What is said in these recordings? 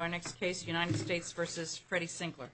Our next case, United States v. Freddie Sinkler.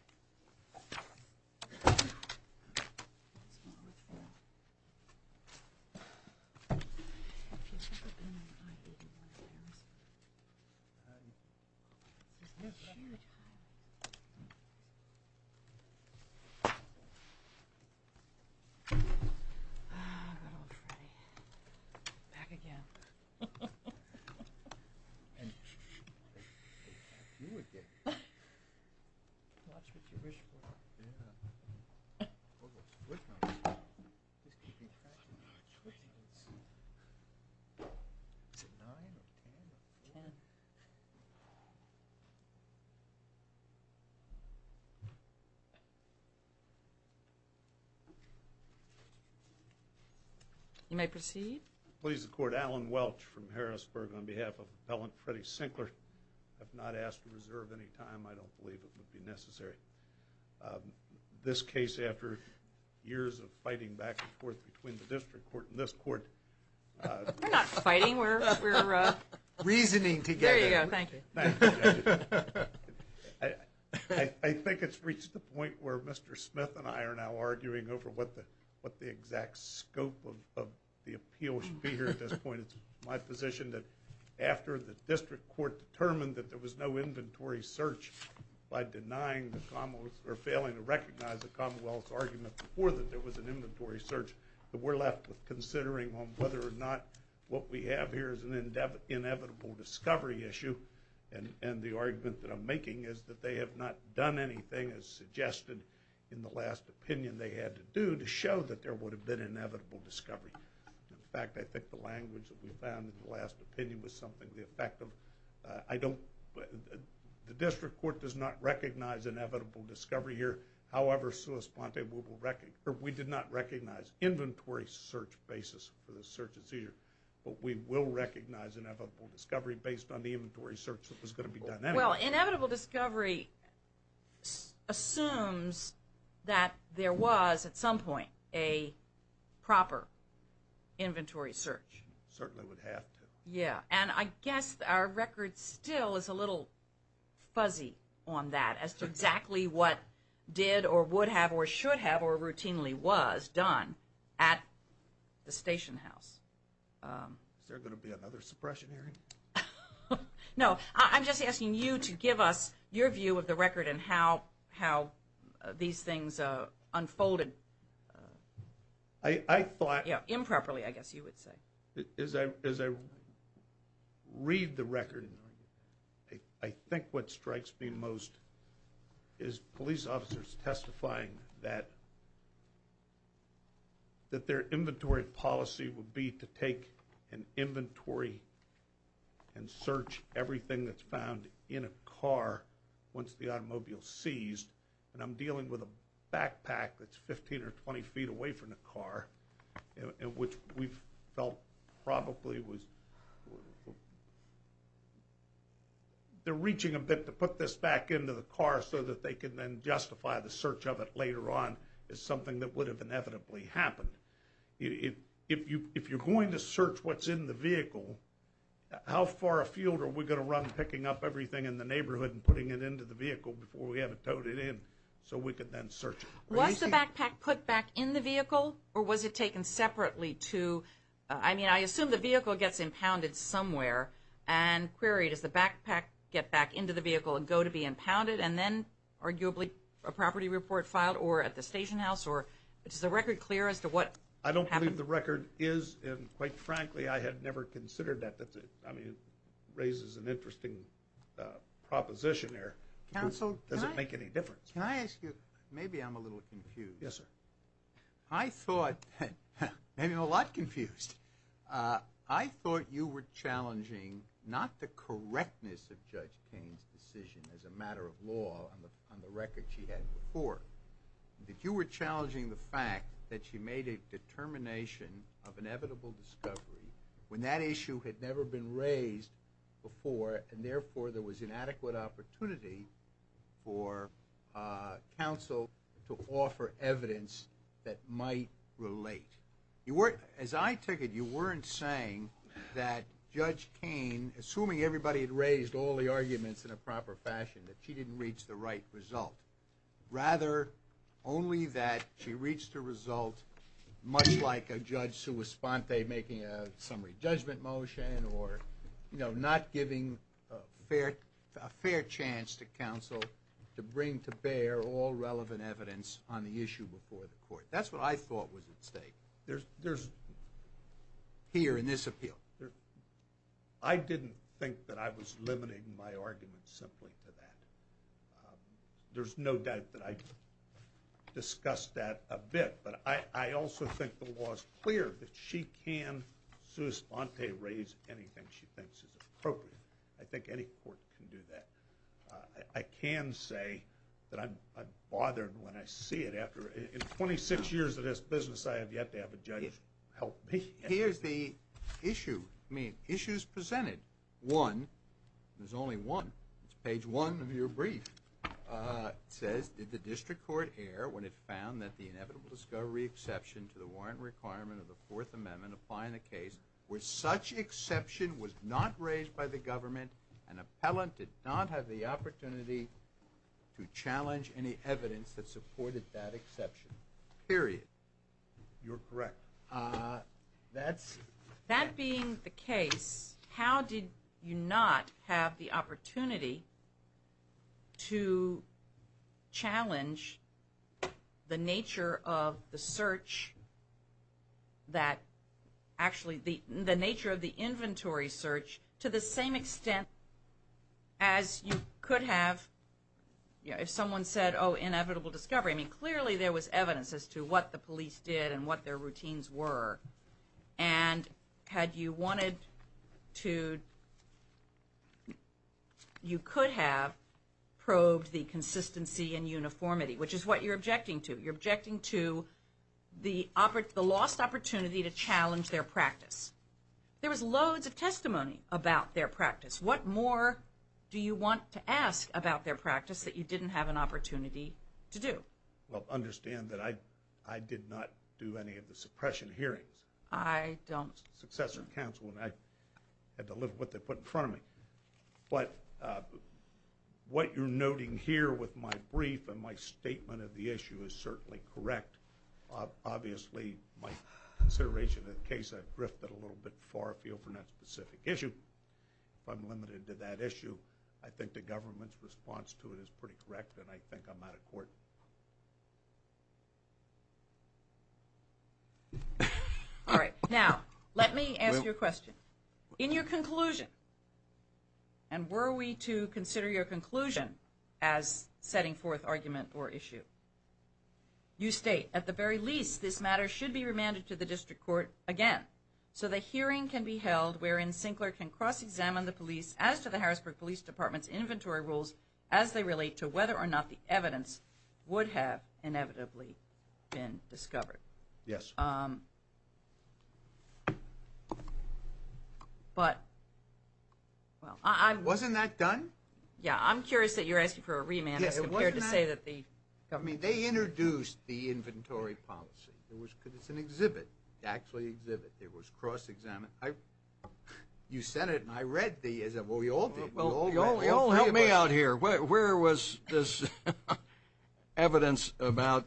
You may proceed. Allen Welch from Harrisburg on behalf of Appellant Freddie Sinkler. I have not asked to reserve any time. I don't believe it would be necessary. This case, after years of fighting back and forth between the district court and this court. We're not fighting. We're reasoning together. There you go. Thank you. I think it's reached the point where Mr. Smith and I are now arguing over what the exact scope of the appeal should be here at this point. It's my position that after the district court determined that there was no inventory search by denying the Commonwealth or failing to recognize the Commonwealth's argument before that there was an inventory search, that we're left with considering on whether or not what we have here is an inevitable discovery issue. And the argument that I'm making is that they have not done anything as suggested in the last opinion they had to do to show that there would have been inevitable discovery. In fact, I think the language that we found in the last opinion was something to the effect of, I don't, the district court does not recognize inevitable discovery here. However, we did not recognize inventory search basis for the search at Cedar. But we will recognize inevitable discovery based on the inventory search that was going to be done anyway. Well, inevitable discovery assumes that there was at some point a proper inventory search. Certainly would have to. Yeah. And I guess our record still is a little fuzzy on that as to exactly what did or would have or should have or routinely was done at the station house. Is there going to be another suppression hearing? No. I'm just asking you to give us your view of the record and how these things unfolded improperly, I guess you would say. As I read the record, I think what strikes me most is police officers testifying that their inventory policy would be to take an inventory and search everything that's found in a car once the automobile is seized. And I'm dealing with a backpack that's 15 or 20 feet away from the car, which we felt probably was, they're reaching a bit to put this back into the car so that they can then justify the search of it later on as something that would have inevitably happened. If you're going to search what's in the vehicle, how far afield are we going to run picking up everything in the neighborhood and putting it into the vehicle before we have it towed it in so we could then search it? Was the backpack put back in the vehicle or was it taken separately to, I mean I assume the vehicle gets impounded somewhere and queried as the backpack get back into the vehicle and go to be impounded and then arguably a property report filed or at the station house or is the record clear as to what happened? I don't believe the record is and quite frankly I had never considered that. It raises an interesting proposition here. Does it make any difference? Can I ask you, maybe I'm a little confused. Yes sir. I thought, maybe I'm a lot confused. I thought you were challenging not the correctness of Judge Payne's decision as a matter of law on the record she had before, that you were challenging the fact that she made a determination of inevitable discovery when that issue had never been raised before and therefore there was inadequate opportunity for counsel to offer evidence that might relate. As I take it you weren't saying that Judge Payne, assuming everybody had raised all the arguments in a proper fashion, that she didn't reach the right result. Rather only that she reached a result much like a Judge Suosponte making a summary judgment motion or not giving a fair chance to counsel to bring to bear all relevant evidence on the issue before the court. That's what I thought was at stake here in this appeal. I didn't think that I was limiting my argument simply to that. There's no doubt that I discussed that a bit, but I also think the law is clear that she can, Suosponte, raise anything she thinks is appropriate. I think any court can do that. I can say that I'm bothered when I see it after, in 26 years of this business I have yet to have a judge help me. Here's the issue. Issues presented. One, there's only one. It's page one of your brief. It says, did the district court err when it found that the inevitable discovery exception to the warrant requirement of the Fourth Amendment applying the case where such exception was not raised by the government, an appellant did not have the opportunity to challenge any evidence that supported that exception. Period. You're correct. That being the case, how did you not have the opportunity to challenge the nature of the search that, actually the nature of the inventory search to the same extent as you could have if someone said, oh, inevitable discovery. Clearly there was evidence as to what the police did and what their routines were. And had you wanted to, you could have probed the consistency and uniformity, which is what you're objecting to. You're objecting to the lost opportunity to challenge their practice. There was loads of testimony about their practice. What more do you want to ask about their practice that you didn't have an opportunity to do? Well, understand that I did not do any of the suppression hearings. I don't. Successor counsel, and I had to live with what they put in front of me. But what you're noting here with my brief and my statement of the issue is certainly correct. Obviously my consideration of the case, I've drifted a little bit far afield from that specific issue. If I'm limited to that issue, I think the government's response to it is pretty correct, and I think I'm out of court. All right. Now let me ask you a question. In your conclusion, and were we to consider your conclusion as setting forth argument or issue, you state, at the very least this matter should be remanded to the district court again so the hearing can be held wherein Sinclair can cross-examine the police as to the Harrisburg Police Department's inventory rules as they relate to whether or not the evidence would have inevitably been discovered. Yes. Wasn't that done? Yeah. I'm curious that you're asking for a remand as compared to say that the government They introduced the inventory policy. It's an exhibit, actually exhibit. It was cross-examined. You said it, and I read it. Well, we all did. Help me out here. Where was this evidence about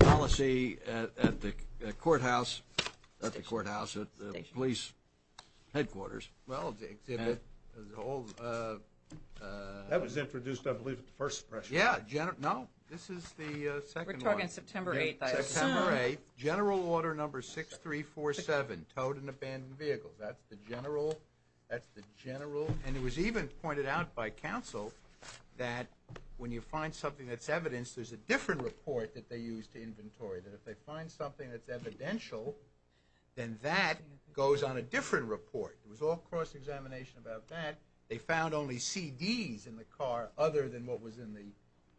policy at the courthouse, at the courthouse at the police headquarters? Well, the exhibit. That was introduced, I believe, at the first session. Yeah. No. This is the second one. We're talking September 8th, I assume. September 8th. General order number 6347, towed and abandoned vehicles. That's the general. That's the general. And it was even pointed out by counsel that when you find something that's evidence, there's a different report that they use to inventory, that if they find something that's evidential, then that goes on a different report. It was all cross-examination about that. They found only CDs in the car other than what was in the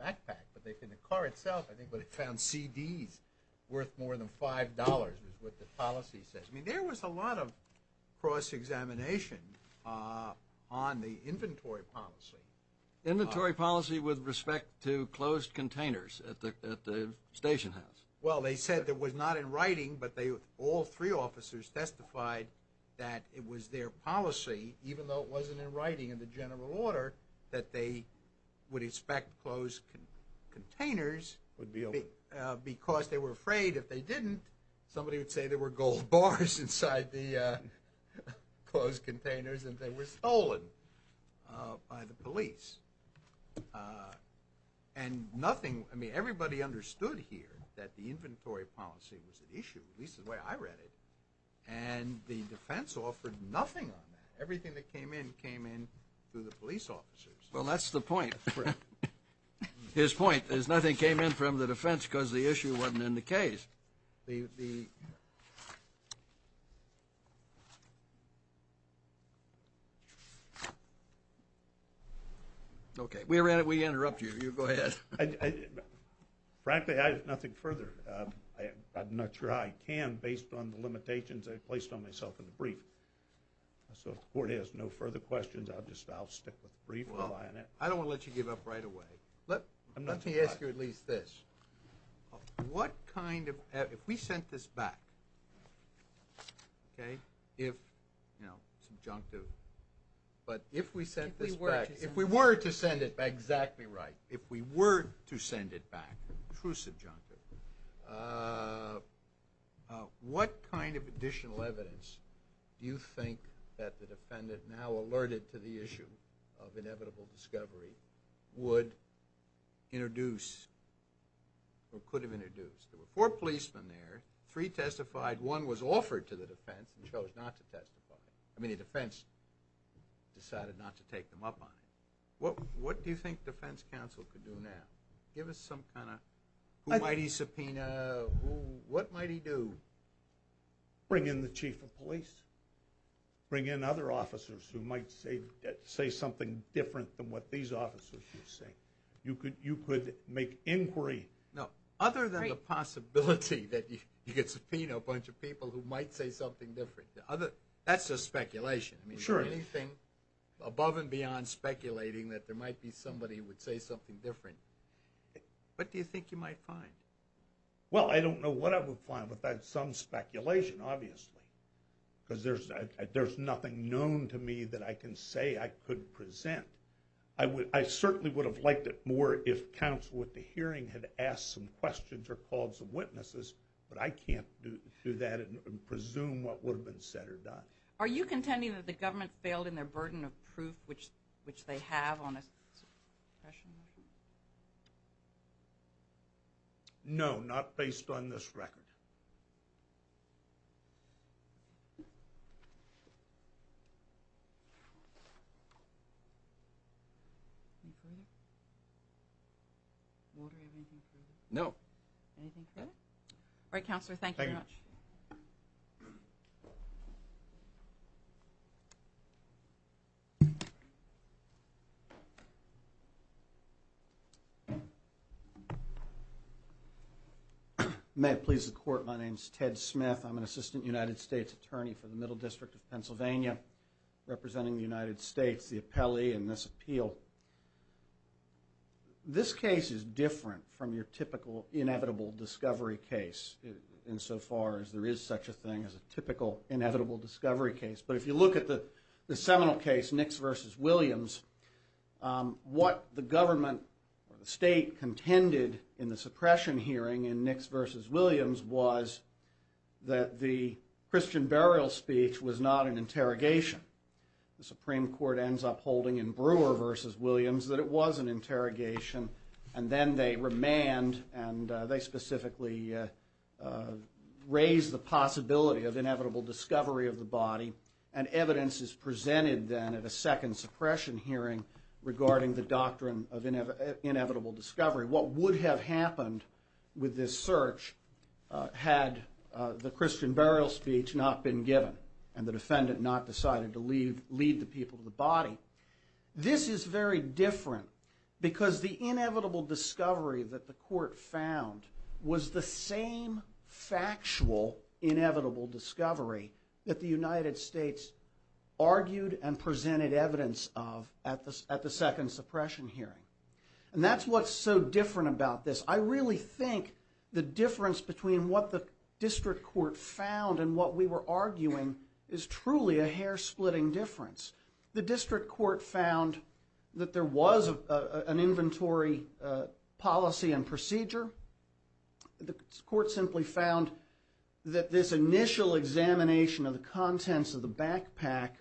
backpack. But in the car itself, I think they found CDs worth more than $5 is what the policy says. I mean, there was a lot of cross-examination on the inventory policy. Inventory policy with respect to closed containers at the station house. Well, they said it was not in writing, but all three officers testified that it was their policy, even though it wasn't in writing in the general order, that they would inspect closed containers because they were afraid if they didn't, somebody would say there were gold bars inside the closed containers and they were stolen by the police. And nothing, I mean, everybody understood here that the inventory policy was an issue, at least the way I read it, and the defense offered nothing on that. Everything that came in came in through the police officers. Well, that's the point. His point is nothing came in from the defense because the issue wasn't in the case. Okay. We interrupt you. You go ahead. Frankly, I have nothing further. I'm not sure I can based on the limitations I placed on myself in the brief. So if the Court has no further questions, I'll stick with the brief. I don't want to let you give up right away. Let me ask you at least this. What kind of ‑‑ if we sent this back, okay, if, you know, subjunctive, but if we sent this back, if we were to send it back, exactly right, if we were to send it back, true subjunctive, what kind of additional evidence do you think that the defendant now alerted to the issue of inevitable discovery would introduce or could have introduced? There were four policemen there. Three testified. One was offered to the defense and chose not to testify. I mean, the defense decided not to take them up on it. What do you think defense counsel could do now? Give us some kind of ‑‑ who might he subpoena? What might he do? Bring in the chief of police. Bring in other officers who might say something different than what these officers would say. You could make inquiry. No, other than the possibility that you could subpoena a bunch of people who might say something different. That's just speculation. Anything above and beyond speculating that there might be somebody who would say something different, what do you think you might find? Well, I don't know what I would find without some speculation, obviously, because there's nothing known to me that I can say I could present. I certainly would have liked it more if counsel at the hearing had asked some questions or called some witnesses, but I can't do that and presume what would have been said or done. Are you contending that the government failed in their burden of proof, which they have on a suppression motion? No, not based on this record. Walter, do you have anything further? No. Anything further? All right, Counselor, thank you very much. Thank you. May it please the Court, my name is Ted Smith. I'm an Assistant United States Attorney for the Middle District of Pennsylvania, representing the United States, the appellee in this appeal. This case is different from your typical inevitable discovery case, insofar as there is such a thing as a typical inevitable discovery case. But if you look at the seminal case, Nix v. Williams, what the government or the state contended in the suppression hearing in Nix v. Williams was that the Christian burial speech was not an interrogation. The Supreme Court ends up holding in Brewer v. Williams that it was an interrogation, and then they remand, and they specifically raise the possibility of inevitable discovery of the body, and evidence is presented then at a second suppression hearing regarding the doctrine of inevitable discovery. What would have happened with this search had the Christian burial speech not been to lead the people to the body. This is very different because the inevitable discovery that the court found was the same factual inevitable discovery that the United States argued and presented evidence of at the second suppression hearing. And that's what's so different about this. I really think the difference between what the district court found and what we were arguing is truly a hair-splitting difference. The district court found that there was an inventory policy and procedure. The court simply found that this initial examination of the contents of the backpack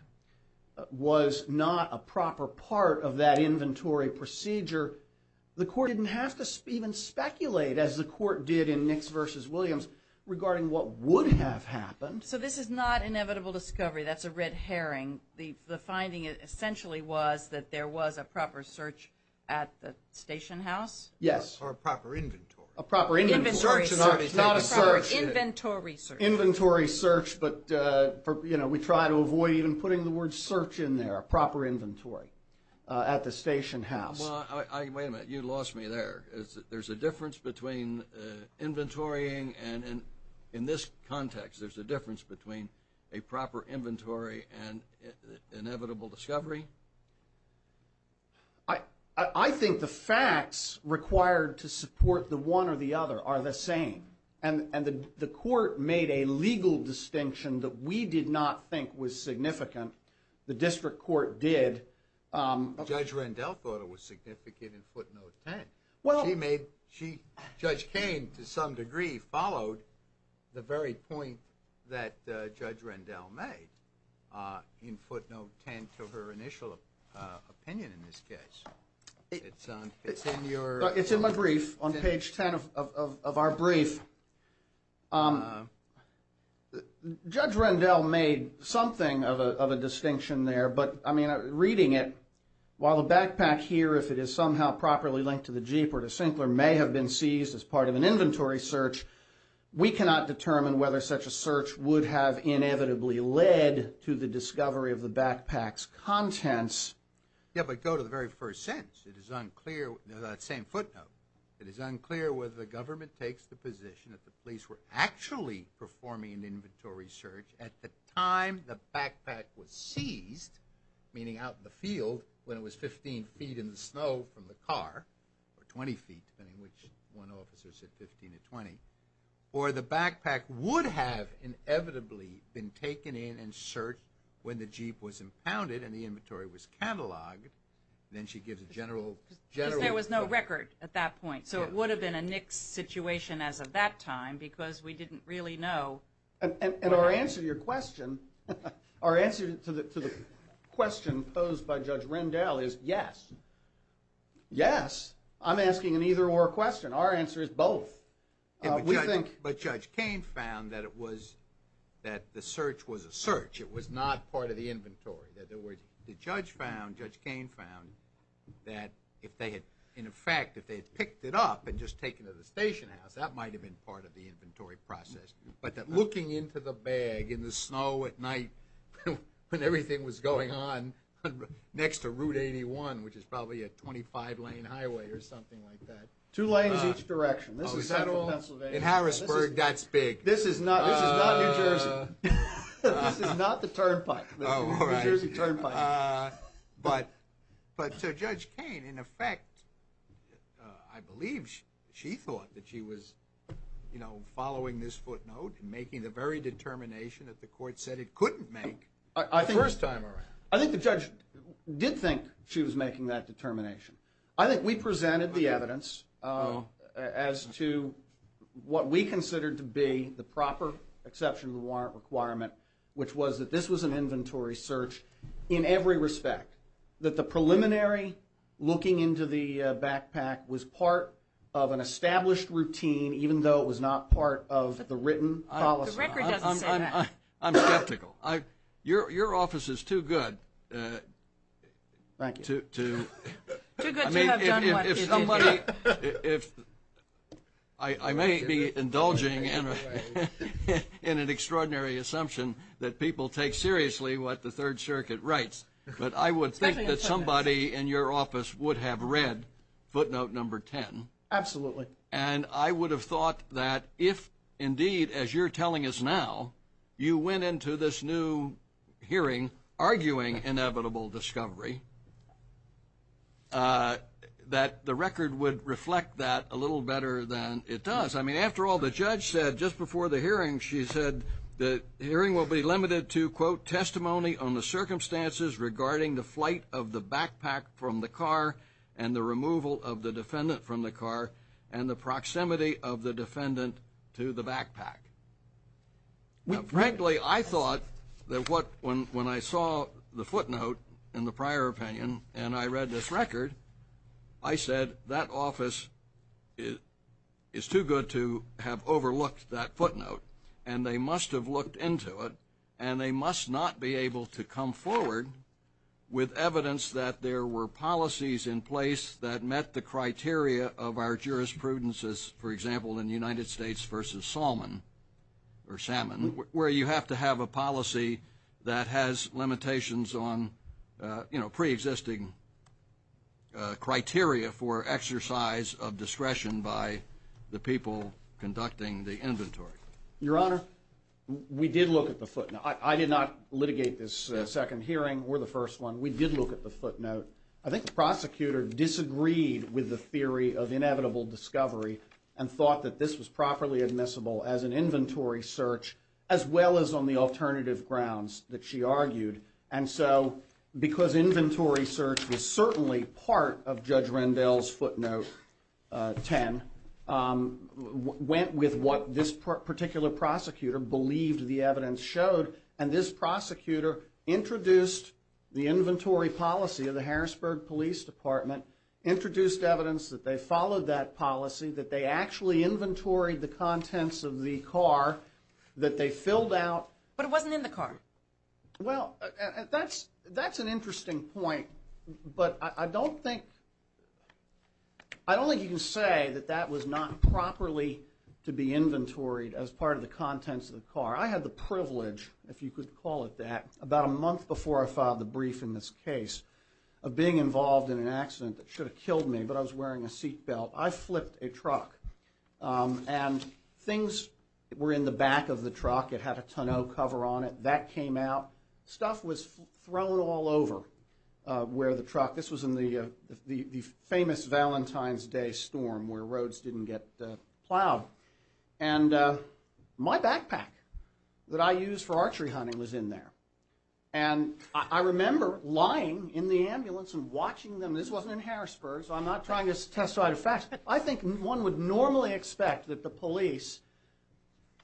was not a proper part of that inventory procedure. The court didn't have to even speculate as the court did in Nix v. Williams regarding what would have happened. So this is not inevitable discovery. That's a red herring. The finding essentially was that there was a proper search at the station house? Yes. Or a proper inventory. A proper inventory. Inventory search is not a search. It's not a search. Inventory search. Inventory search, but, you know, we try to avoid even putting the word search in there, a proper inventory at the station house. Wait a minute. You lost me there. There's a difference between inventorying and, in this context, there's a difference between a proper inventory and inevitable discovery? I think the facts required to support the one or the other are the same. And the court made a legal distinction that we did not think was significant. The district court did. Judge Rendell thought it was significant in footnote 10. Judge Cain, to some degree, followed the very point that Judge Rendell made in footnote 10 to her initial opinion in this case. It's in my brief on page 10 of our brief. Judge Rendell made something of a distinction there. But, I mean, reading it, while the backpack here, if it is somehow properly linked to the Jeep or to Sinclair, may have been seized as part of an inventory search, we cannot determine whether such a search would have inevitably led to the discovery of the backpack's contents. Yeah, but go to the very first sentence. It is unclear. That same footnote. It is unclear whether the government takes the position that the police were actually performing an inventory search at the time the backpack was seized, meaning out in the field when it was 15 feet in the snow from the car, or 20 feet, depending on which one officer said 15 to 20, or the backpack would have inevitably been taken in and searched when the Jeep was impounded and the inventory was catalogued, then she gives a general report. A record at that point. So it would have been a nixed situation as of that time because we didn't really know. And our answer to your question, our answer to the question posed by Judge Rendell is yes. Yes. I'm asking an either or question. Our answer is both. But Judge Cain found that the search was a search. It was not part of the inventory. In other words, the judge found, Judge Cain found, that if they had, in effect, if they had picked it up and just taken it to the station house, that might have been part of the inventory process. But that looking into the bag in the snow at night when everything was going on next to Route 81, which is probably a 25-lane highway or something like that. Two lanes each direction. Is that all? In Harrisburg, that's big. This is not New Jersey. This is not the turnpike. But to Judge Cain, in effect, I believe she thought that she was, you know, following this footnote and making the very determination that the court said it couldn't make the first time around. I think the judge did think she was making that determination. I think we presented the evidence as to what we considered to be the proper exception to the warrant requirement, which was that this was an inventory search in every respect. That the preliminary looking into the backpack was part of an established routine, even though it was not part of the written policy. The record doesn't say that. I'm skeptical. Your office is too good to. Thank you. Too good to have done what you did. I may be indulging in an extraordinary assumption that people take seriously what the Third Circuit writes, but I would think that somebody in your office would have read footnote number 10. Absolutely. And I would have thought that if, indeed, as you're telling us now, you went into this new hearing arguing inevitable discovery, that the record would reflect that a little better than it does. I mean, after all, the judge said just before the hearing, she said the hearing will be limited to, quote, testimony on the circumstances regarding the flight of the backpack from the car and the removal of the defendant from the car and the proximity of the defendant to the backpack. Now, frankly, I thought that when I saw the footnote in the prior opinion and I read this record, I said that office is too good to have done what you did. And they must have looked into it, and they must not be able to come forward with evidence that there were policies in place that met the criteria of our jurisprudences, for example, in the United States versus Salmon, or Salmon, where you have to have a policy that has limitations on, you know, preexisting criteria for exercise of discretion by the people conducting the inventory. Your Honor, we did look at the footnote. I did not litigate this second hearing. We're the first one. We did look at the footnote. I think the prosecutor disagreed with the theory of inevitable discovery and thought that this was properly admissible as an inventory search, as well as on the alternative grounds that she argued. And so because inventory search was certainly part of Judge Rendell's what this particular prosecutor believed the evidence showed, and this prosecutor introduced the inventory policy of the Harrisburg Police Department, introduced evidence that they followed that policy, that they actually inventoried the contents of the car, that they filled out. But it wasn't in the car. Well, that's an interesting point, but I don't think you can say that that was not properly to be inventoried as part of the contents of the car. I had the privilege, if you could call it that, about a month before I filed the brief in this case, of being involved in an accident that should have killed me, but I was wearing a seat belt. I flipped a truck, and things were in the back of the truck. It had a tonneau cover on it. That came out. Stuff was thrown all over where the truck was. It was in the famous Valentine's Day storm where roads didn't get plowed. And my backpack that I use for archery hunting was in there. And I remember lying in the ambulance and watching them. This wasn't in Harrisburg, so I'm not trying to testify to facts. I think one would normally expect that the police,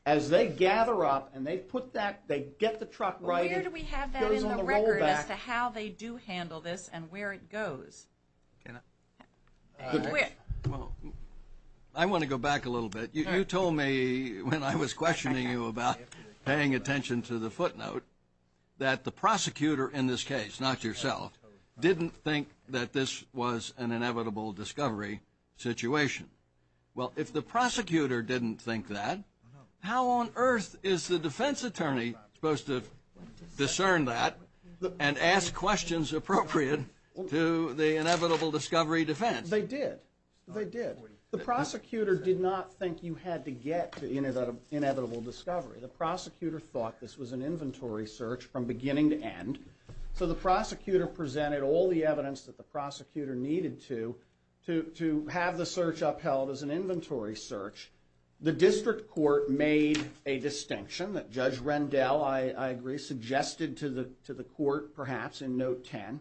as they gather up and they put that, they get the truck right in. Where do we have that in the record as to how they do handle this and where it goes? I want to go back a little bit. You told me when I was questioning you about paying attention to the footnote that the prosecutor in this case, not yourself, didn't think that this was an inevitable discovery situation. Well, if the prosecutor didn't think that, how on earth is the defense attorney supposed to discern that and ask questions appropriate to the inevitable discovery defense? They did. They did. The prosecutor did not think you had to get to that inevitable discovery. The prosecutor thought this was an inventory search from beginning to end. So the prosecutor presented all the evidence that the prosecutor needed to have the search upheld as an inventory search. The district court made a distinction that Judge Rendell, I agree, suggested to the court, perhaps in note 10,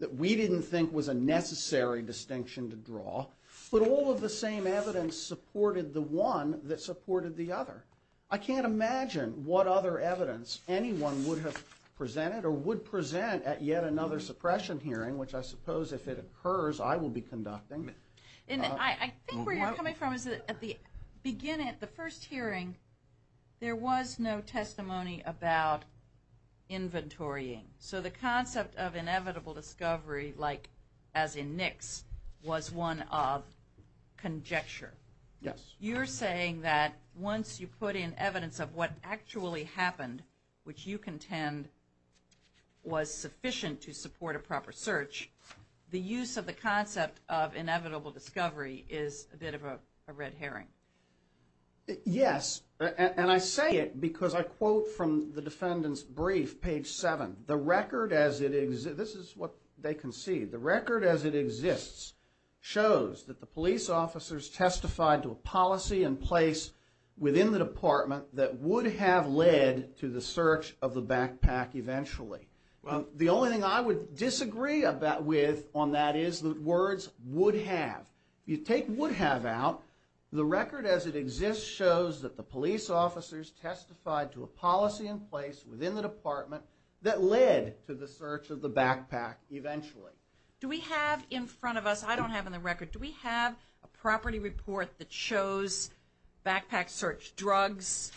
that we didn't think was a necessary distinction to draw. But all of the same evidence supported the one that supported the other. I can't imagine what other evidence anyone would have presented or would present at yet another suppression hearing, which I suppose if it occurs I will be conducting. I think where you're coming from is that at the beginning, there was no testimony about inventorying. So the concept of inevitable discovery, like as in Nix, was one of conjecture. You're saying that once you put in evidence of what actually happened, which you contend was sufficient to support a proper search, the use of the concept of inevitable discovery is a bit of a red herring. Yes, and I say it because I quote from the defendant's brief, page 7, the record as it exists, this is what they concede, the record as it exists shows that the police officers testified to a policy and place within the department that would have led to the search of the backpack eventually. The only thing I would disagree with on that is the words would have. You take would have out, the record as it exists shows that the police officers testified to a policy and place within the department that led to the search of the backpack eventually. Do we have in front of us, I don't have in the record, do we have a property report that shows backpack search drugs,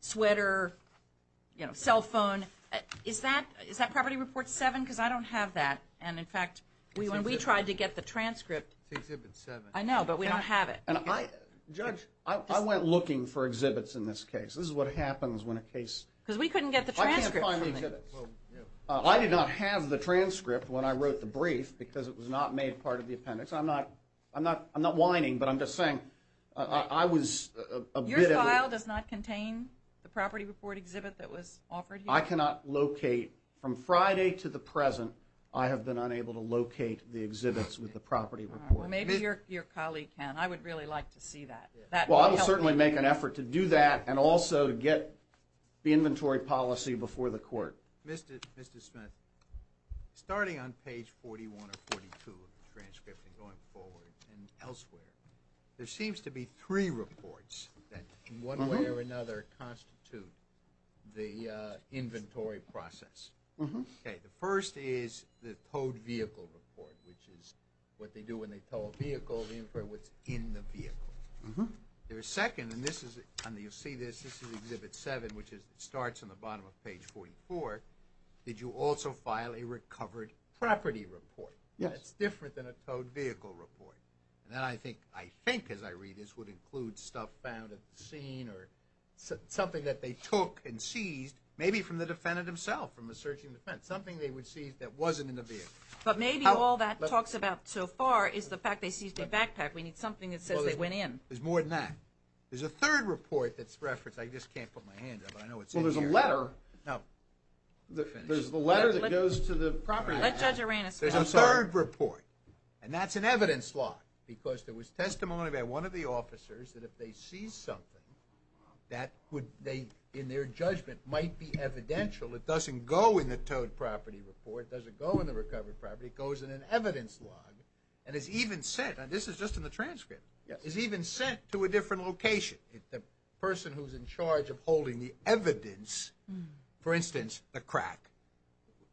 sweater, cell phone, is that property report 7? Because I don't have that. And, in fact, when we tried to get the transcript. It's exhibit 7. I know, but we don't have it. Judge, I went looking for exhibits in this case. This is what happens when a case. Because we couldn't get the transcript. I can't find the exhibits. I did not have the transcript when I wrote the brief because it was not made part of the appendix. I'm not whining, but I'm just saying I was a bit of a. Your file does not contain the property report exhibit that was offered here? I cannot locate from Friday to the present. I have been unable to locate the exhibits with the property report. Maybe your colleague can. I would really like to see that. Well, I would certainly make an effort to do that and also get the inventory policy before the court. Mr. Smith, starting on page 41 or 42 of the transcript and going forward and elsewhere, there seems to be three reports that, in one way or another, constitute the inventory process. The first is the towed vehicle report, which is what they do when they tow a vehicle, they infer what's in the vehicle. The second, and you'll see this, this is exhibit 7, which starts on the bottom of page 44, did you also file a recovered property report? It's different than a towed vehicle report. And then I think, as I read this, would include stuff found at the scene or something that they took and seized, maybe from the defendant himself from a searching defense, something they would seize that wasn't in the vehicle. But maybe all that talks about so far is the fact they seized a backpack. We need something that says they went in. There's more than that. There's a third report that's referenced. I just can't put my hand up, but I know it's in here. Well, there's a letter. No. There's the letter that goes to the property office. Let Judge Aranis finish. There's a third report, and that's an evidence log, because there was testimony by one of the officers that if they seized something that would, in their judgment, might be evidential, it doesn't go in the towed property report, it doesn't go in the recovered property, it goes in an evidence log and is even sent, and this is just in the transcript, is even sent to a different location. The person who's in charge of holding the evidence, for instance, the crack,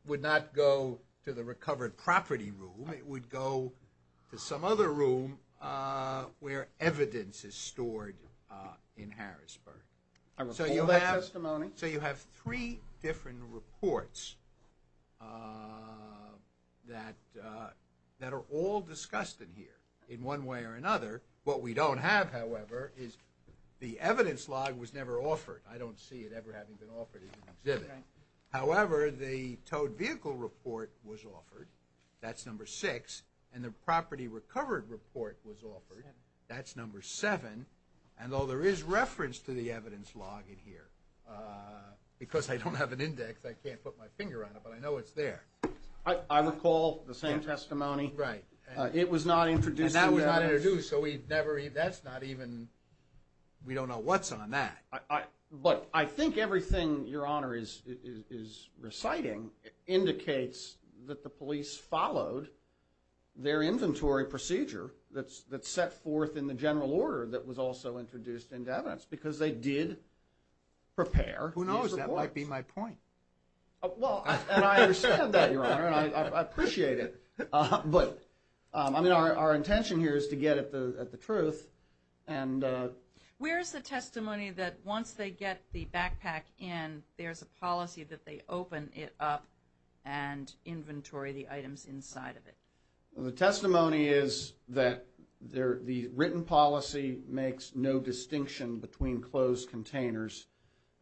would not go to the recovered property room. It would go to some other room where evidence is stored in Harrisburg. So you have three different reports that are all discussed in here, in one way or another. What we don't have, however, is the evidence log was never offered. I don't see it ever having been offered in an exhibit. However, the towed vehicle report was offered. That's number six. And the property recovered report was offered. That's number seven. And, although there is reference to the evidence log in here, because I don't have an index, I can't put my finger on it, but I know it's there. I recall the same testimony. Right. It was not introduced in the evidence. And that was not introduced, so we never even, that's not even, we don't know what's on that. But I think everything, Your Honor, is reciting indicates that the police followed their inventory procedure that's set forth in the general order that was also introduced into evidence, because they did prepare these reports. Who knows? That might be my point. Well, and I understand that, Your Honor, and I appreciate it. But, I mean, our intention here is to get at the truth. Where is the testimony that once they get the backpack in, there's a policy that they open it up and inventory the items inside of it? The testimony is that the written policy makes no distinction between closed containers.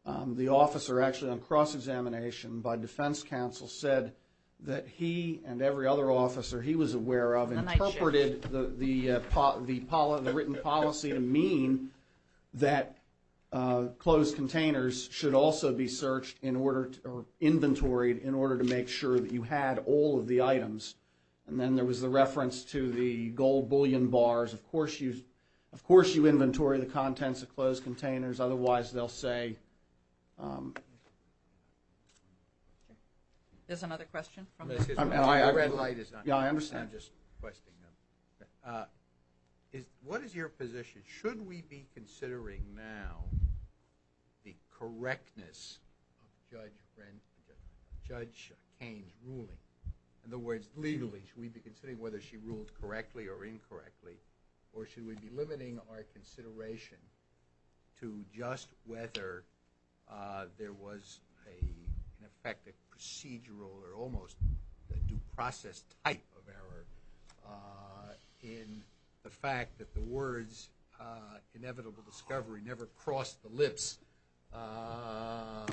The officer actually on cross-examination by defense counsel said that he and every other officer he was aware of interpreted the written policy to mean that closed containers should also be searched in order to, or inventoried in order to make sure that you had all of the items. And then there was the reference to the gold bullion bars. Of course you inventory the contents of closed containers, otherwise they'll say. Sure. There's another question? The red light is on. Yeah, I understand. What is your position? Should we be considering now the correctness of Judge Kane's ruling? In other words, legally, should we be considering whether she ruled correctly or incorrectly, or should we be limiting our consideration to just whether there was, in effect, a procedural or almost a due process type of error in the fact that the words inevitable discovery never crossed the lips of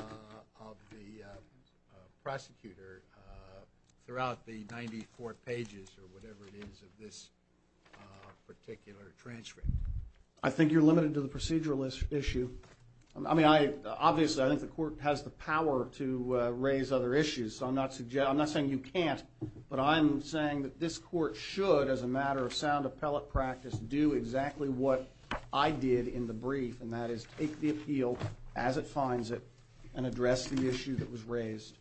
the prosecutor throughout the 94 pages or whatever it is of this particular transcript? I think you're limited to the procedural issue. I mean, obviously I think the court has the power to raise other issues. I'm not saying you can't, but I'm saying that this court should, as a matter of sound appellate practice, do exactly what I did in the brief, and that is take the appeal as it finds it and address the issue that was raised.